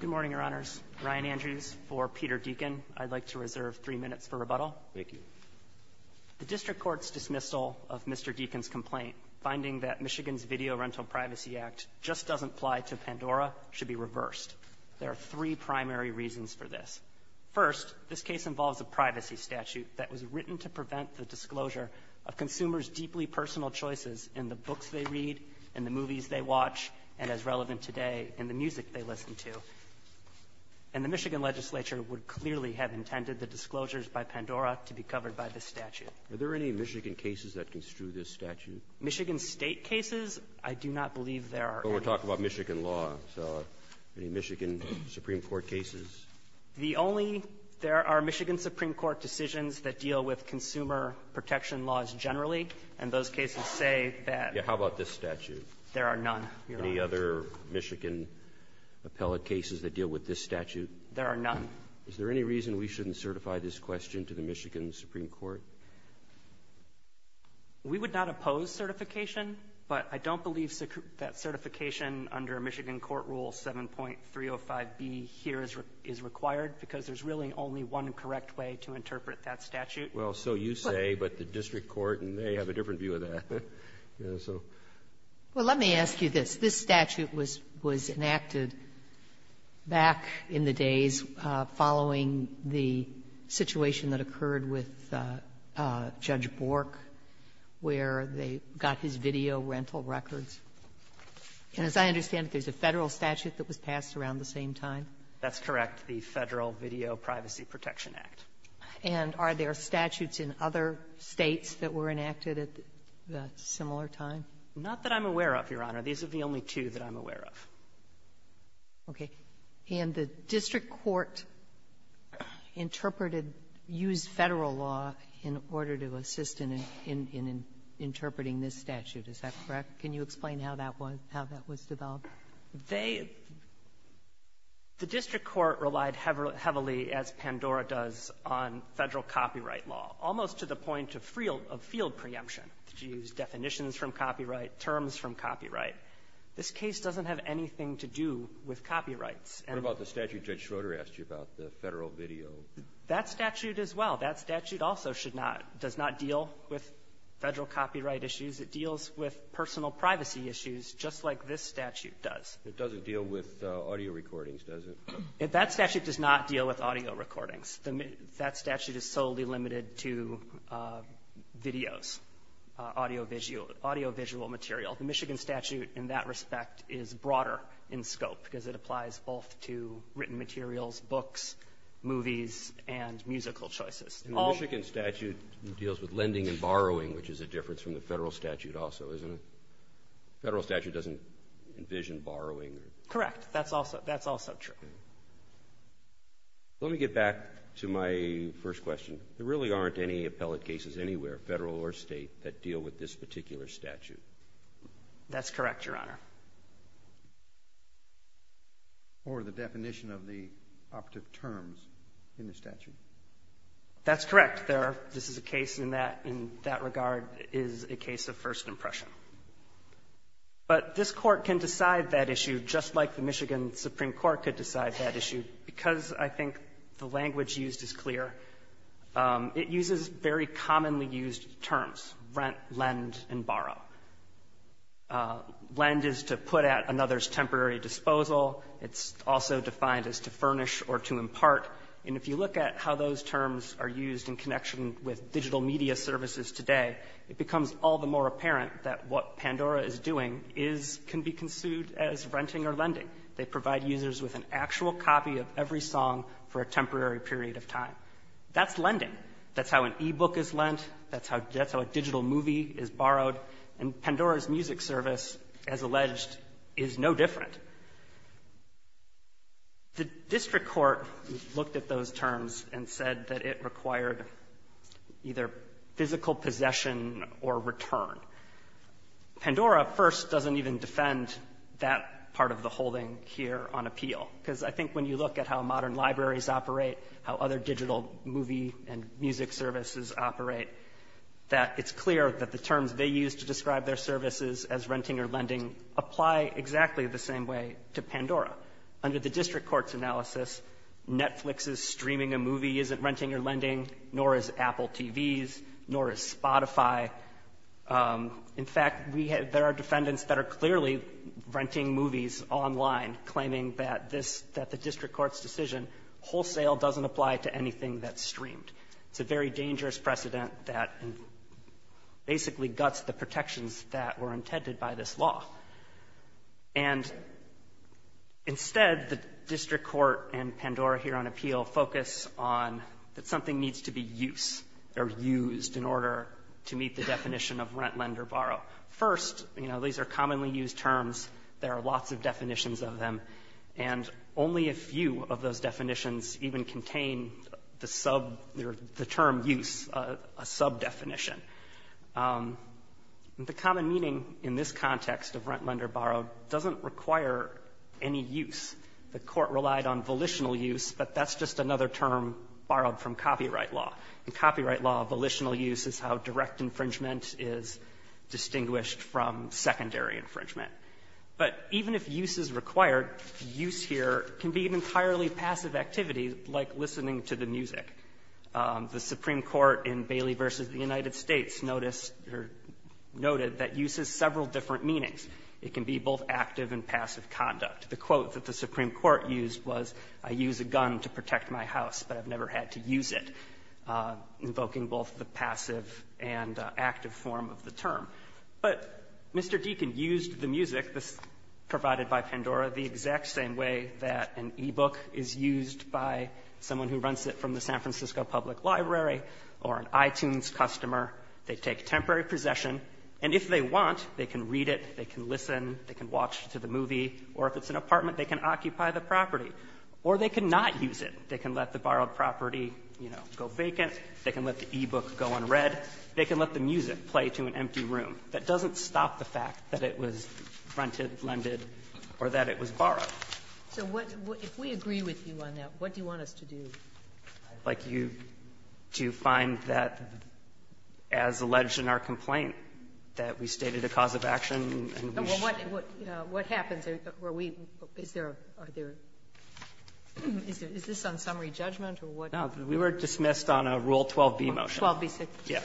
Good morning, Your Honors. Ryan Andrews for Peter Deacon. I'd like to reserve three minutes for rebuttal. Thank you. The District Court's dismissal of Mr. Deacon's complaint, finding that Michigan's Video Rental Privacy Act just doesn't apply to Pandora, should be reversed. There are three primary reasons for this. First, this case involves a privacy statute that was written to prevent the disclosure of consumers' deeply personal choices in the books they read, in the movies they watch, and, as relevant today, in the music they listen to. And the Michigan legislature would clearly have intended the disclosures by Pandora to be covered by this statute. Are there any Michigan cases that construe this statute? Michigan State cases, I do not believe there are any. But we're talking about Michigan law, so any Michigan Supreme Court cases? The only — there are Michigan Supreme Court decisions that deal with consumer protection laws generally, and those cases say that — Yeah. How about this statute? There are none, Your Honors. Any other Michigan appellate cases that deal with this statute? There are none. Is there any reason we shouldn't certify this question to the Michigan Supreme Court? We would not oppose certification, but I don't believe that certification under Michigan Court Rule 7.305B here is required, because there's really only one correct way to interpret that statute. Well, so you say, but the district court may have a different view of that. Well, let me ask you this. This statute was enacted back in the days following the situation that occurred with Judge Bork, where they got his video rental records. And as I understand it, there's a Federal statute that was passed around the same time? That's correct. The Federal Video Privacy Protection Act. And are there statutes in other States that were enacted at a similar time? Not that I'm aware of, Your Honor. These are the only two that I'm aware of. Okay. And the district court interpreted — used Federal law in order to assist in interpreting this statute. Is that correct? Can you explain how that was — how that was developed? They — the district court relied heavily, as Pandora does, on Federal copyright law, almost to the point of field preemption. You use definitions from copyright, terms from copyright. This case doesn't have anything to do with copyrights. What about the statute Judge Schroeder asked you about, the Federal video? That statute as well. That statute also should not — does not deal with Federal copyright issues. It deals with personal privacy issues, just like this statute does. It doesn't deal with audio recordings, does it? That statute does not deal with audio recordings. That statute is solely limited to videos, audiovisual — audiovisual material. The Michigan statute in that respect is broader in scope because it applies both to written materials, books, movies, and musical choices. And the Michigan statute deals with lending and borrowing, which is a difference from the Federal statute also, isn't it? The Federal statute doesn't envision borrowing or — Correct. That's also — that's also true. Let me get back to my first question. There really aren't any appellate cases anywhere, Federal or State, that deal with this particular statute. That's correct, Your Honor. Or the definition of the operative terms in the statute. That's correct. There are — this is a case in that — in that regard is a case of first impression. But this Court can decide that issue just like the Michigan Supreme Court could decide that issue because I think the language used is clear. It uses very commonly used terms, rent, lend, and borrow. Lend is to put at another's temporary disposal. It's also defined as to furnish or to impart. And if you look at how those terms are used in connection with digital media services today, it becomes all the more apparent that what Pandora is doing is — can be considered as renting or lending. They provide users with an actual copy of every song for a temporary period of time. That's lending. That's how an e-book is lent. That's how a digital movie is borrowed. And Pandora's music service, as alleged, is no different. The district court looked at those terms and said that it required either physical possession or return. Pandora, first, doesn't even defend that part of the holding here on appeal, because I think when you look at how modern libraries operate, how other digital movie and music services operate, that it's clear that the terms they use to describe their the district court's analysis, Netflix's streaming a movie isn't renting or lending, nor is Apple TV's, nor is Spotify. In fact, we have — there are defendants that are clearly renting movies online, claiming that this — that the district court's decision wholesale doesn't apply to anything that's streamed. It's a very dangerous precedent that basically guts the protections that were intended by this law. And instead, the district court and Pandora here on appeal focus on that something needs to be used or used in order to meet the definition of rent, lend, or borrow. First, you know, these are commonly used terms. There are lots of definitions of them. And only a few of those definitions even contain the sub — the term use, a sub-definition. The common meaning in this context of rent, lend, or borrow doesn't require any use. The court relied on volitional use, but that's just another term borrowed from copyright law. In copyright law, volitional use is how direct infringement is distinguished from secondary infringement. But even if use is required, use here can be an entirely passive activity, like listening to the music. The Supreme Court in Bailey v. The United States noticed or noted that use has several different meanings. It can be both active and passive conduct. The quote that the Supreme Court used was, I use a gun to protect my house, but I've never had to use it, invoking both the passive and active form of the term. But Mr. Deacon used the music provided by Pandora the exact same way that an e-book is used by someone who runs it from the San Francisco Public Library or an iTunes customer. They take temporary possession. And if they want, they can read it, they can listen, they can watch it to the movie. Or if it's an apartment, they can occupy the property. Or they cannot use it. They can let the borrowed property, you know, go vacant. They can let the e-book go unread. They can let the music play to an empty room. That doesn't stop the fact that it was rented, lended, or that it was borrowed. So what do you want us to do? Like you do find that as alleged in our complaint, that we stated a cause of action and we should do it. What happens? Are we – is there a – are there – is this on summary judgment, or what? No. We were dismissed on a Rule 12b motion. 12b6? Yeah.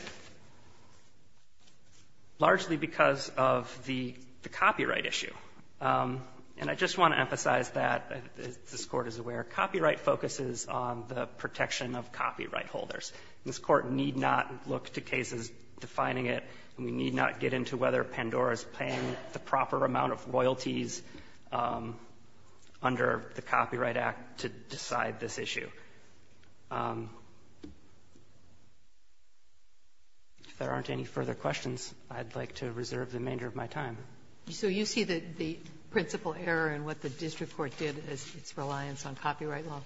Largely because of the copyright issue. And I just want to emphasize that, as this Court is aware, copyright focuses on the protection of copyright holders. This Court need not look to cases defining it, and we need not get into whether Pandora's paying the proper amount of royalties under the Copyright Act to decide this issue. If there aren't any further questions, I'd like to reserve the remainder of my time. Sotomayor, so you see the principal error in what the district court did as its reliance on copyright law?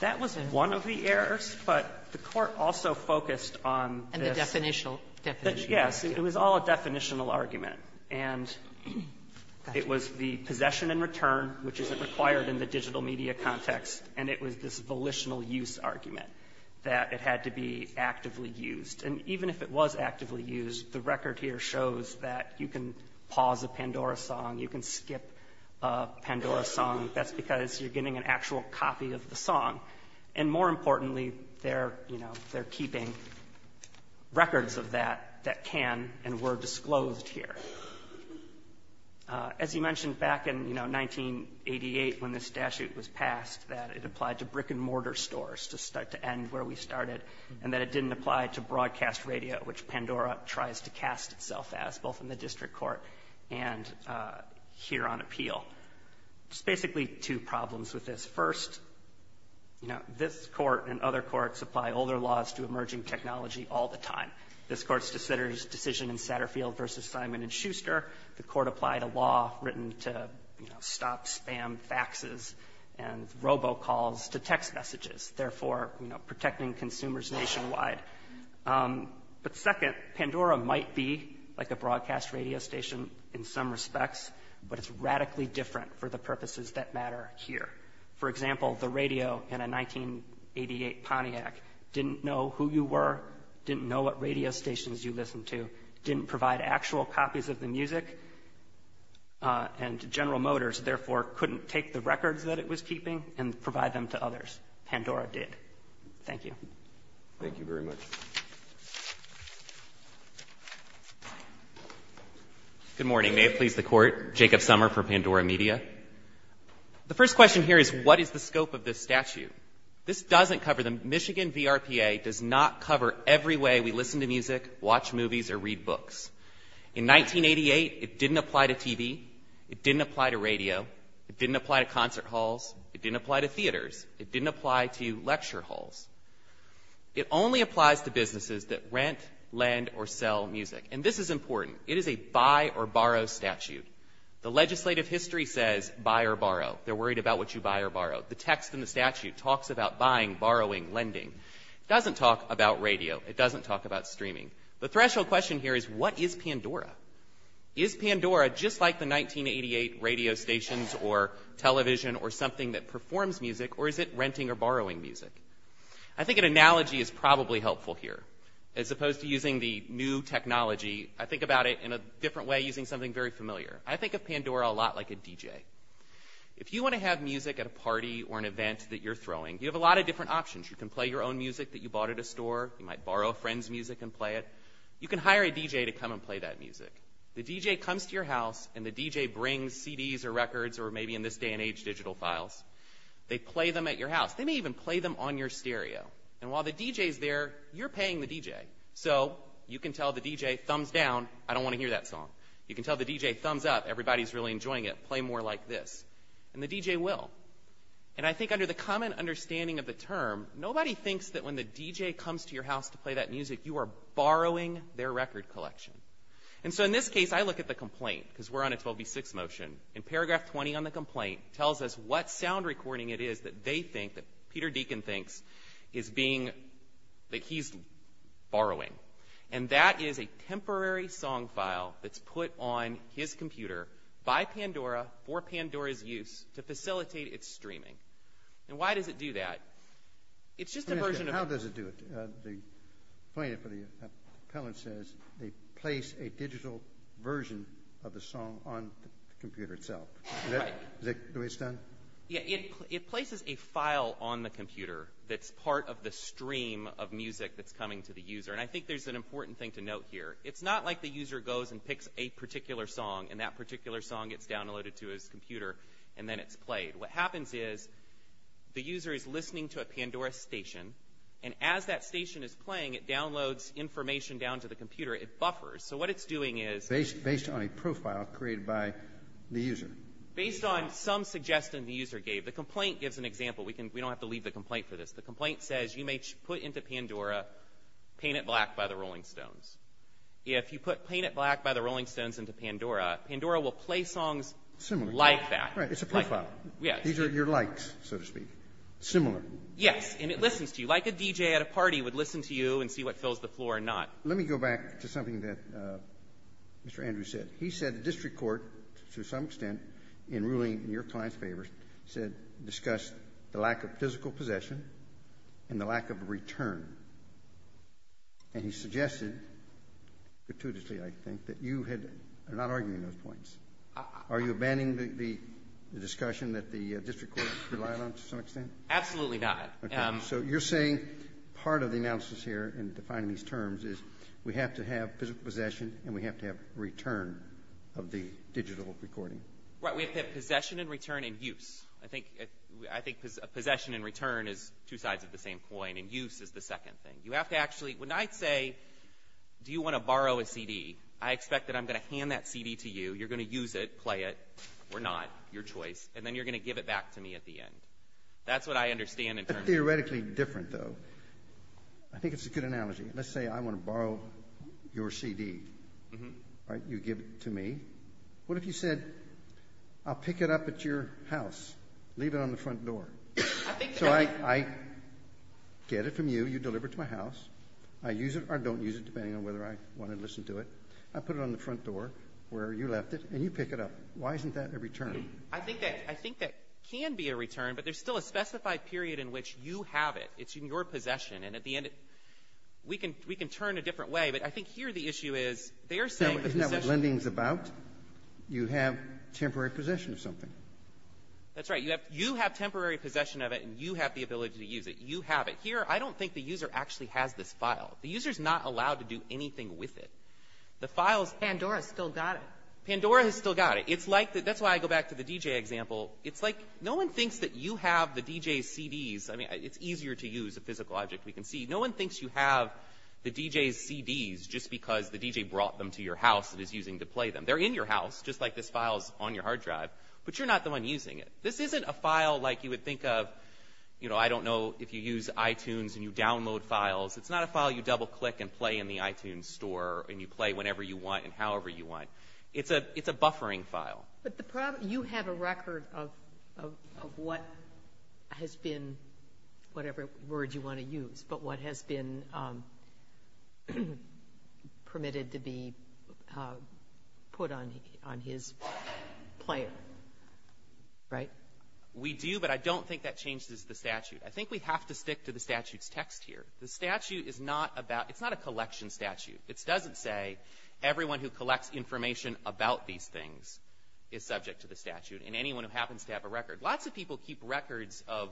That was one of the errors, but the Court also focused on this. And the definitional. Yes. It was all a definitional argument. And it was the possession and return, which isn't required in the digital media context, and it was this volitional use argument that it had to be actively used. And even if it was actively used, the record here shows that you can pause a Pandora song, you can skip a Pandora song. That's because you're getting an actual copy of the song. And more importantly, they're, you know, they're keeping records of that that can and were disclosed here. As you mentioned, back in, you know, 1988, when this statute was passed, that it applied to brick-and-mortar stores to start to end where we started, and that it didn't apply to broadcast radio, which Pandora tries to cast itself as, both in the district court and here on appeal. There's basically two problems with this. First, you know, this Court and other courts apply older laws to emerging technology all the time. This Court's decision in Satterfield v. Simon & Schuster, the Court applied a law written to, you know, stop spam faxes and robocalls to text messages, therefore, you know, protecting consumers nationwide. But second, Pandora might be like a broadcast radio station in some respects, but it's radically different for the purposes that matter here. For example, the radio in a 1988 Pontiac didn't know who you were, didn't know what radio stations you listened to, didn't provide actual copies of the music, and General Motors therefore couldn't take the records that it was keeping and provide them to others. Pandora did. Thank you. Thank you very much. Good morning. May it please the Court. Jacob Sommer from Pandora Media. The first question here is what is the scope of this statute? This doesn't cover the Michigan VRPA, does not cover every way we listen to music, watch movies, or read books. In 1988, it didn't apply to TV. It didn't apply to concert halls. It didn't apply to theaters. It didn't apply to lecture halls. It only applies to businesses that rent, lend, or sell music. And this is important. It is a buy or borrow statute. The legislative history says buy or borrow. They're worried about what you buy or borrow. The text in the statute talks about buying, borrowing, lending. It doesn't talk about radio. It doesn't talk about streaming. The threshold question here is what is Pandora? Is Pandora just like the 1988 radio stations or television or something that performs music or is it renting or borrowing music? I think an analogy is probably helpful here. As opposed to using the new technology, I think about it in a different way using something very familiar. I think of Pandora a lot like a DJ. If you want to have music at a party or an event that you're throwing, you have a lot of different options. You can play your own music that you bought at a store. You might borrow a friend's music and play it. You can hire a DJ to come and play that music. The DJ comes to your house and the DJ brings CDs or records or maybe in this day and age, digital files. They play them at your house. They may even play them on your stereo. And while the DJ's there, you're paying the DJ. So you can tell the DJ, thumbs down, I don't want to hear that song. You can tell the DJ, thumbs up, everybody's really enjoying it, play more like this. And the DJ will. And I think under the common understanding of the term, nobody thinks that when the DJ comes to your house to play that music, you are borrowing their record collection. And so in this case, I look at the complaint because we're on a 12B6 motion. And paragraph 20 on the complaint tells us what sound recording it is that they think, that Peter Deacon thinks, is being, that he's borrowing. And that is a temporary song file that's put on his computer by Pandora for Pandora's use to facilitate its streaming. And why does it do that? It's just a version of... Right. Do we understand? Yeah, it places a file on the computer that's part of the stream of music that's coming to the user. And I think there's an important thing to note here. It's not like the user goes and picks a particular song, and that particular song gets downloaded to his computer, and then it's played. What happens is, the user is listening to a Pandora station. And as that station is playing, it downloads information down to the computer. It buffers. So what it's doing is... Based on a profile created by the user. Based on some suggestion the user gave. The complaint gives an example. We don't have to leave the complaint for this. The complaint says, you may put into Pandora, Paint It Black by the Rolling Stones. If you put Paint It Black by the Rolling Stones into Pandora, Pandora will play songs like that. Right. It's a profile. Yes. These are your likes, so to speak. Similar. Yes. And it listens to you, like a DJ at a party would listen to you and see what fills the floor or not. Let me go back to something that Mr. Andrews said. He said the district court, to some extent, in ruling in your client's favor, said, discussed the lack of physical possession and the lack of return. And he suggested, gratuitously, I think, that you had not argued those points. Are you abandoning the discussion that the district court relied on, to some extent? Absolutely not. So you're saying part of the analysis here, in defining these terms, is we have to have physical possession and we have to have return of the digital recording. Right. We have to have possession and return and use. I think possession and return is two sides of the same coin, and use is the second thing. You have to actually, when I say, do you want to borrow a CD, I expect that I'm going to hand that CD to you, you're going to use it, play it, or not, your choice, and then you're going to give it back to me at the end. That's what I understand in terms of- Theoretically different, though. I think it's a good analogy. Let's say I want to borrow your CD, right? You give it to me. What if you said, I'll pick it up at your house, leave it on the front door? So I get it from you, you deliver it to my house, I use it or don't use it, depending on whether I want to listen to it. I put it on the front door, where you left it, and you pick it up. Why isn't that a return? I think that can be a return, but there's still a specified period in which you have it. It's in your possession. And at the end, we can turn a different way, but I think here the issue is they are saying- Isn't that what lending is about? You have temporary possession of something. That's right. You have temporary possession of it, and you have the ability to use it. You have it. Here, I don't think the user actually has this file. The user is not allowed to do anything with it. The file is- Pandora still got it. Pandora has still got it. That's why I go back to the DJ example. It's like, no one thinks that you have the DJ's CDs. I mean, it's easier to use a physical object, we can see. No one thinks you have the DJ's CDs just because the DJ brought them to your house and is using to play them. They're in your house, just like this file's on your hard drive, but you're not the one using it. This isn't a file like you would think of, you know, I don't know, if you use iTunes and you download files. It's not a file you double-click and play in the iTunes store, and you play whenever you want and however you want. It's a buffering file. But you have a record of what has been, whatever word you want to use, but what has been permitted to be put on his player, right? We do, but I don't think that changes the statute. I think we have to stick to the statute's text here. The statute is not about, it's not a collection statute. It doesn't say everyone who collects information about these things is subject to the statute and anyone who happens to have a record. Lots of people keep records of,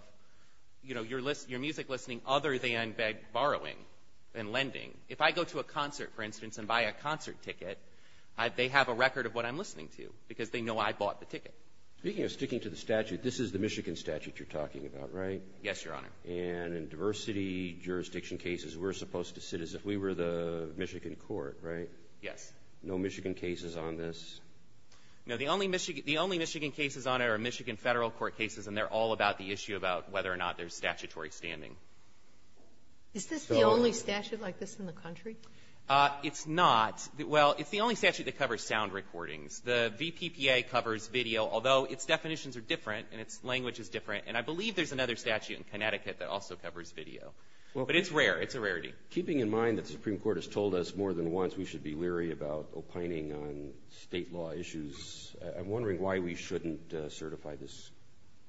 you know, your music listening other than borrowing and lending. If I go to a concert, for instance, and buy a concert ticket, they have a record of what I'm listening to because they know I bought the ticket. Speaking of sticking to the statute, this is the Michigan statute you're talking about, right? Yes, Your Honor. And in diversity jurisdiction cases, we're supposed to sit as if we were the Michigan court, right? Yes. No Michigan cases on this? No, the only Michigan cases on it are Michigan federal court cases, and they're all about the issue about whether or not there's statutory standing. Is this the only statute like this in the country? It's not. Well, it's the only statute that covers sound recordings. The VPPA covers video, although its definitions are different and its language is different. And I believe there's another statute in Connecticut that also covers video. But it's rare. It's a rarity. Keeping in mind that the Supreme Court has told us more than once we should be leery about opining on state law issues, I'm wondering why we shouldn't certify this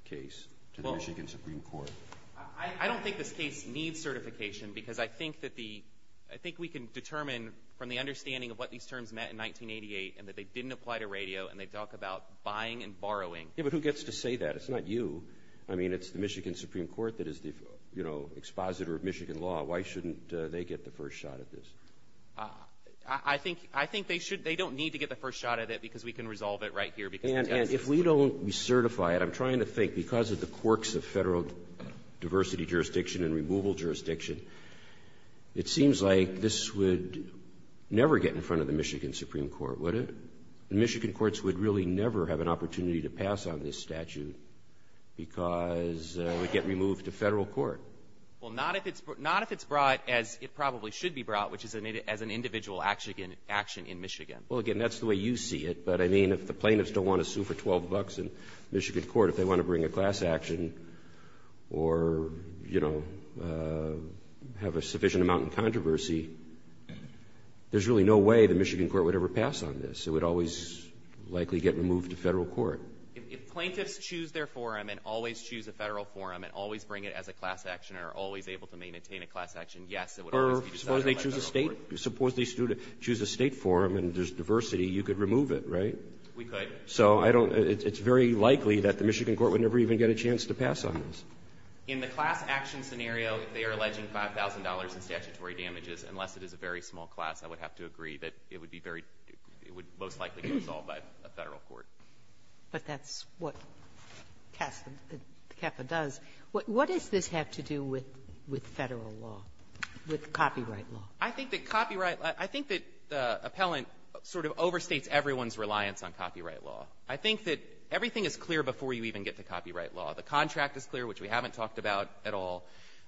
case to the Michigan Supreme Court. I don't think this case needs certification because I think we can determine from the understanding of what these terms meant in 1988 and that they didn't apply to radio and they talk about buying and borrowing. Yeah, but who gets to say that? It's not you. I mean, it's the Michigan Supreme Court that is the, you know, expositor of Michigan law. Why shouldn't they get the first shot at this? I think they don't need to get the first shot at it because we can resolve it right here. And if we don't certify it, I'm trying to think, because of the quirks of federal diversity jurisdiction and removal jurisdiction, it seems like this would never get in front of the Michigan Supreme Court, would it? The Michigan courts would really never have an opportunity to pass on this statute because it would get removed to federal court. Well, not if it's brought as it probably should be brought, which is as an individual action in Michigan. Well, again, that's the way you see it. But, I mean, if the plaintiffs don't want to sue for 12 bucks in Michigan court, if they want to bring a class action or, you know, have a sufficient amount in controversy, there's really no way the Michigan court would ever pass on this. It would always likely get removed to federal court. If plaintiffs choose their forum and always choose a federal forum and always bring it as a class action and are always able to maintain a class action, yes, it would always be decided to let go. Or suppose they choose a state forum and there's diversity, you could remove it, right? We could. So it's very likely that the Michigan court would never even get a chance to pass on this. In the class action scenario, if they are alleging $5,000 in statutory damages, unless it is a very small class, I would have to agree that it would be very ---- it would most likely be resolved by a federal court. But that's what CAFA does. What does this have to do with federal law, with copyright law? I think that copyright law ---- I think that the appellant sort of overstates everyone's reliance on copyright law. I think that everything is clear before you even get to copyright law. The contract is clear, which we haven't talked about at all.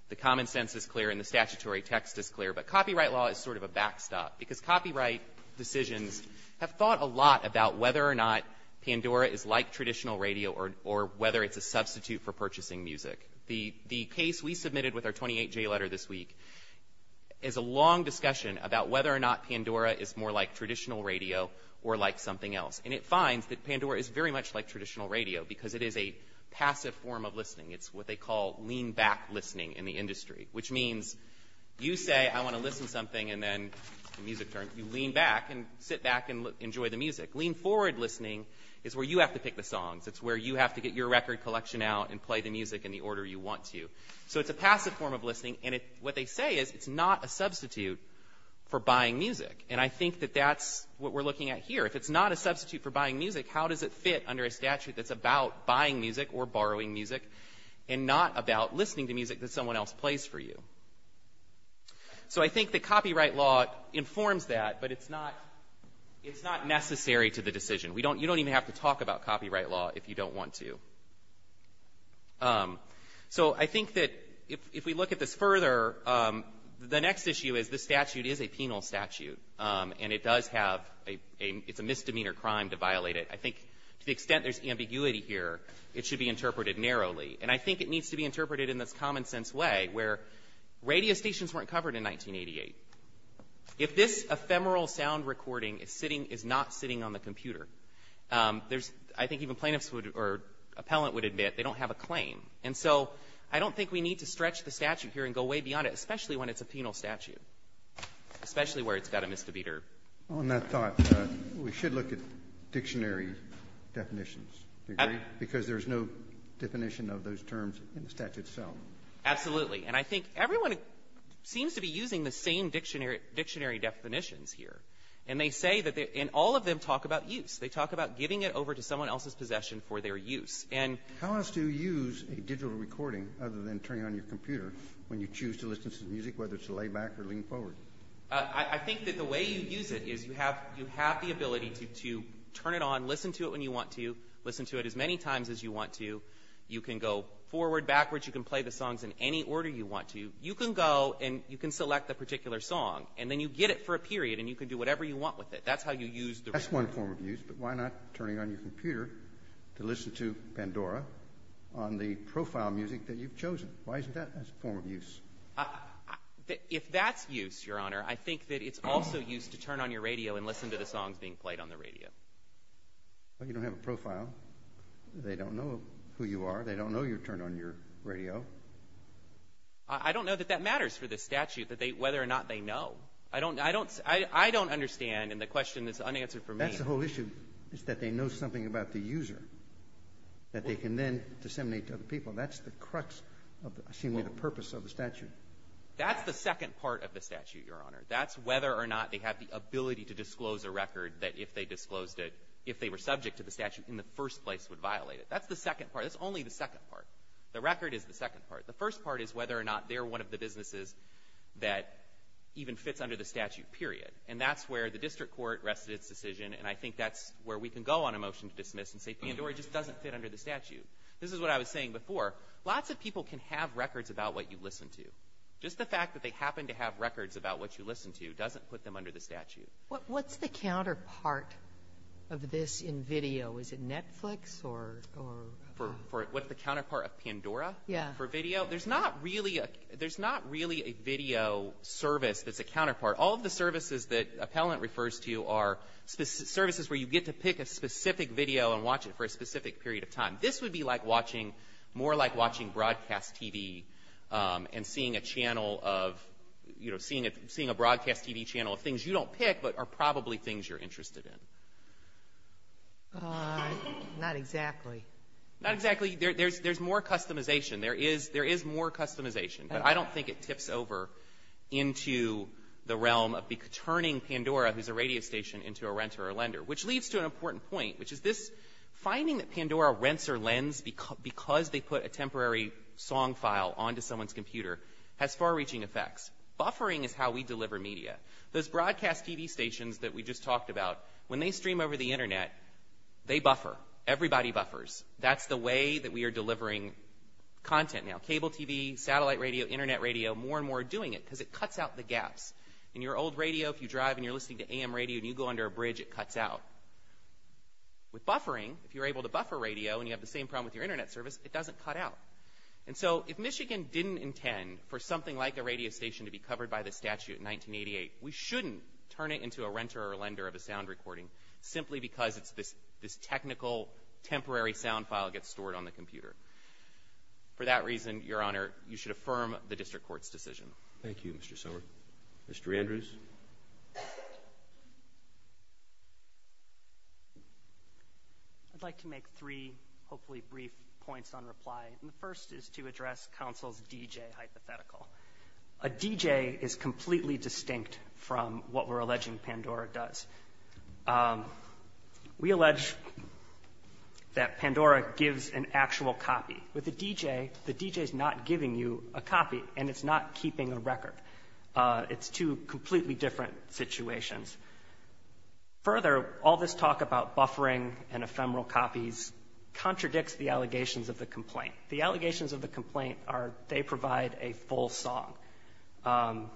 The common sense is clear and the statutory text is clear. But copyright law is sort of a backstop. Because copyright decisions have thought a lot about whether or not Pandora is like traditional radio or whether it's a substitute for purchasing music. The case we submitted with our 28J letter this week is a long discussion about whether or not Pandora is more like traditional radio or like something else. And it finds that Pandora is very much like traditional radio because it is a passive form of listening. It's what they call lean-back listening in the industry, which means you say, I want to listen to something and then the music turns. You lean back and sit back and enjoy the music. Lean-forward listening is where you have to pick the songs. It's where you have to get your record collection out and play the music in the order you want to. So it's a passive form of listening. And what they say is it's not a substitute for buying music. And I think that that's what we're looking at here. If it's not a substitute for buying music, how does it fit under a statute that's about buying music or borrowing music and not about listening to music that someone else plays for you? So I think that copyright law informs that, but it's not necessary to the decision. You don't even have to talk about copyright law if you don't want to. So I think that if we look at this further, the next issue is this statute is a penal statute. And it does have a — it's a misdemeanor crime to violate it. I think to the extent there's ambiguity here, it should be interpreted narrowly. And I think it needs to be interpreted in this common-sense way where radio stations weren't covered in 1988. If this ephemeral sound recording is sitting — is not sitting on the computer, there's — I think even plaintiffs would — or appellant would admit they don't have a claim. And so I don't think we need to stretch the statute here and go way beyond it, especially when it's a penal statute, especially where it's got a misdemeanor. Roberts. On that thought, we should look at dictionary definitions. Do you agree? Because there's no definition of those terms in the statute itself. Absolutely. And I think everyone seems to be using the same dictionary definitions here. And they say that — and all of them talk about use. They talk about giving it over to someone else's possession for their use. How else do you use a digital recording other than turning on your computer when you choose to listen to the music, whether it's a layback or lean forward? I think that the way you use it is you have the ability to turn it on, listen to it when you want to, listen to it as many times as you want to. You can go forward, backwards. You can play the songs in any order you want to. You can go and you can select a particular song. And then you get it for a period, and you can do whatever you want with it. That's how you use the — That's one form of use, but why not turning on your computer to listen to Pandora on the profile music that you've chosen? Why isn't that a form of use? If that's use, Your Honor, I think that it's also use to turn on your radio and listen to the songs being played on the radio. But you don't have a profile. They don't know who you are. They don't know you turn on your radio. I don't know that that matters for the statute, whether or not they know. I don't understand, and the question is unanswered for me. That's the whole issue, is that they know something about the user that they can then disseminate to other people. That's the crux of the purpose of the statute. That's the second part of the statute, Your Honor. That's whether or not they have the ability to disclose a record that if they disclosed it, if they were subject to the statute in the first place, would violate it. That's the second part. That's only the second part. The record is the second part. The first part is whether or not they're one of the businesses that even fits under the statute, period. And that's where the district court rests its decision, and I think that's where we can go on a motion to dismiss and say Pandora just doesn't fit under the statute. This is what I was saying before. Lots of people can have records about what you listen to. Just the fact that they happen to have records about what you listen to doesn't put them under the statute. What's the counterpart of this in video? Is it Netflix or? What's the counterpart of Pandora for video? Yeah. There's not really a video service that's a counterpart. All of the services that appellant refers to are services where you get to pick a specific video and watch it for a specific period of time. This would be like watching, more like watching broadcast TV and seeing a channel of, you know, seeing a broadcast TV channel of things you don't pick but are probably things you're interested in. Not exactly. Not exactly. There's more customization. There is more customization, but I don't think it tips over into the realm of turning Pandora, who's a radio station, into a renter or lender, which leads to an important point, which is this finding that Pandora rents or lends because they put a temporary song file onto someone's computer has far-reaching effects. Buffering is how we deliver media. Those broadcast TV stations that we just talked about, when they stream over the Internet, they buffer. Everybody buffers. That's the way that we are delivering content now. Cable TV, satellite radio, Internet radio, more and more are doing it because it cuts out the gaps. In your old radio, if you drive and you're listening to AM radio and you go under a bridge, it cuts out. With buffering, if you're able to buffer radio and you have the same problem with your Internet service, it doesn't cut out. And so if Michigan didn't intend for something like a radio station to be covered by the statute in 1988, we shouldn't turn it into a renter or lender of a sound recording simply because it's this technical, temporary sound file gets stored on the computer. For that reason, Your Honor, you should affirm the district court's decision. Thank you, Mr. Sommer. Mr. Andrews? I'd like to make three, hopefully, brief points on reply. The first is to address counsel's DJ hypothetical. A DJ is completely distinct from what we're alleging Pandora does. We allege that Pandora gives an actual copy. With a DJ, the DJ is not giving you a copy, and it's not keeping a record. It's two completely different situations. Further, all this talk about buffering and ephemeral copies contradicts the allegations of the complaint. The allegations of the complaint are they provide a full song, and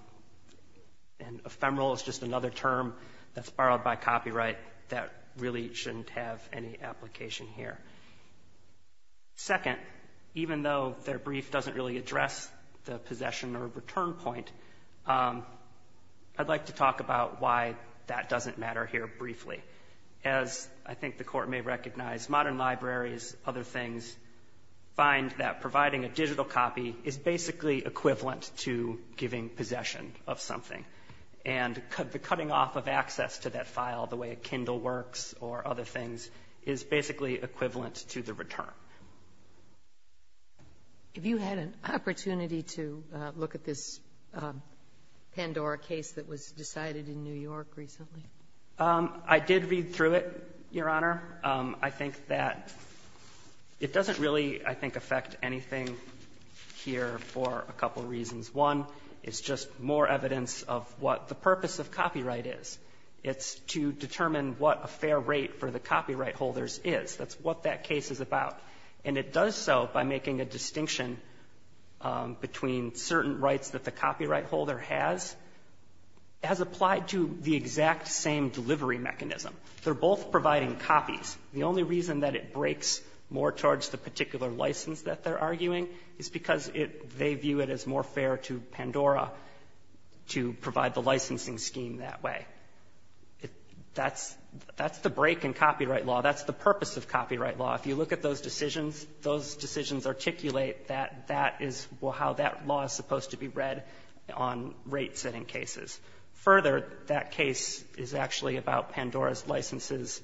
ephemeral is just another term that's borrowed by copyright that really shouldn't have any application here. Second, even though their brief doesn't really address the possession or return point, I'd like to talk about why that doesn't matter here briefly. As I think the Court may recognize, modern libraries, other things, find that providing a digital copy is basically equivalent to giving possession of something. And the cutting off of access to that file, the way a Kindle works or other things, is basically equivalent to the return. Have you had an opportunity to look at this Pandora case that was decided in New York recently? I did read through it, Your Honor. I think that it doesn't really, I think, affect anything here for a couple reasons. One, it's just more evidence of what the purpose of copyright is. It's to determine what a fair rate for the copyright holders is. That's what that case is about. And it does so by making a distinction between certain rights that the copyright holder has, as applied to the exact same delivery mechanism. They're both providing copies. The only reason that it breaks more towards the particular license that they're That's the break in copyright law. That's the purpose of copyright law. If you look at those decisions, those decisions articulate that that is how that law is supposed to be read on rate-setting cases. Further, that case is actually about Pandora's licenses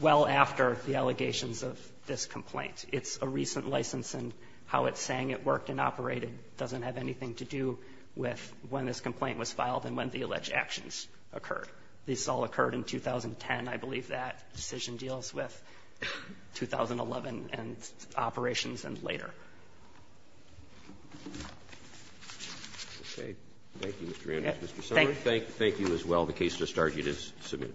well after the allegations of this complaint. It's a recent license, and how it's saying it worked and operated doesn't have anything to do with when this complaint was filed and when the alleged actions occurred. This all occurred in 2010. I believe that decision deals with 2011 and operations and later. Roberts. Thank you, Mr. Ramsey. Mr. Sumner. Thank you. Thank you as well. The case has started. It is submitted.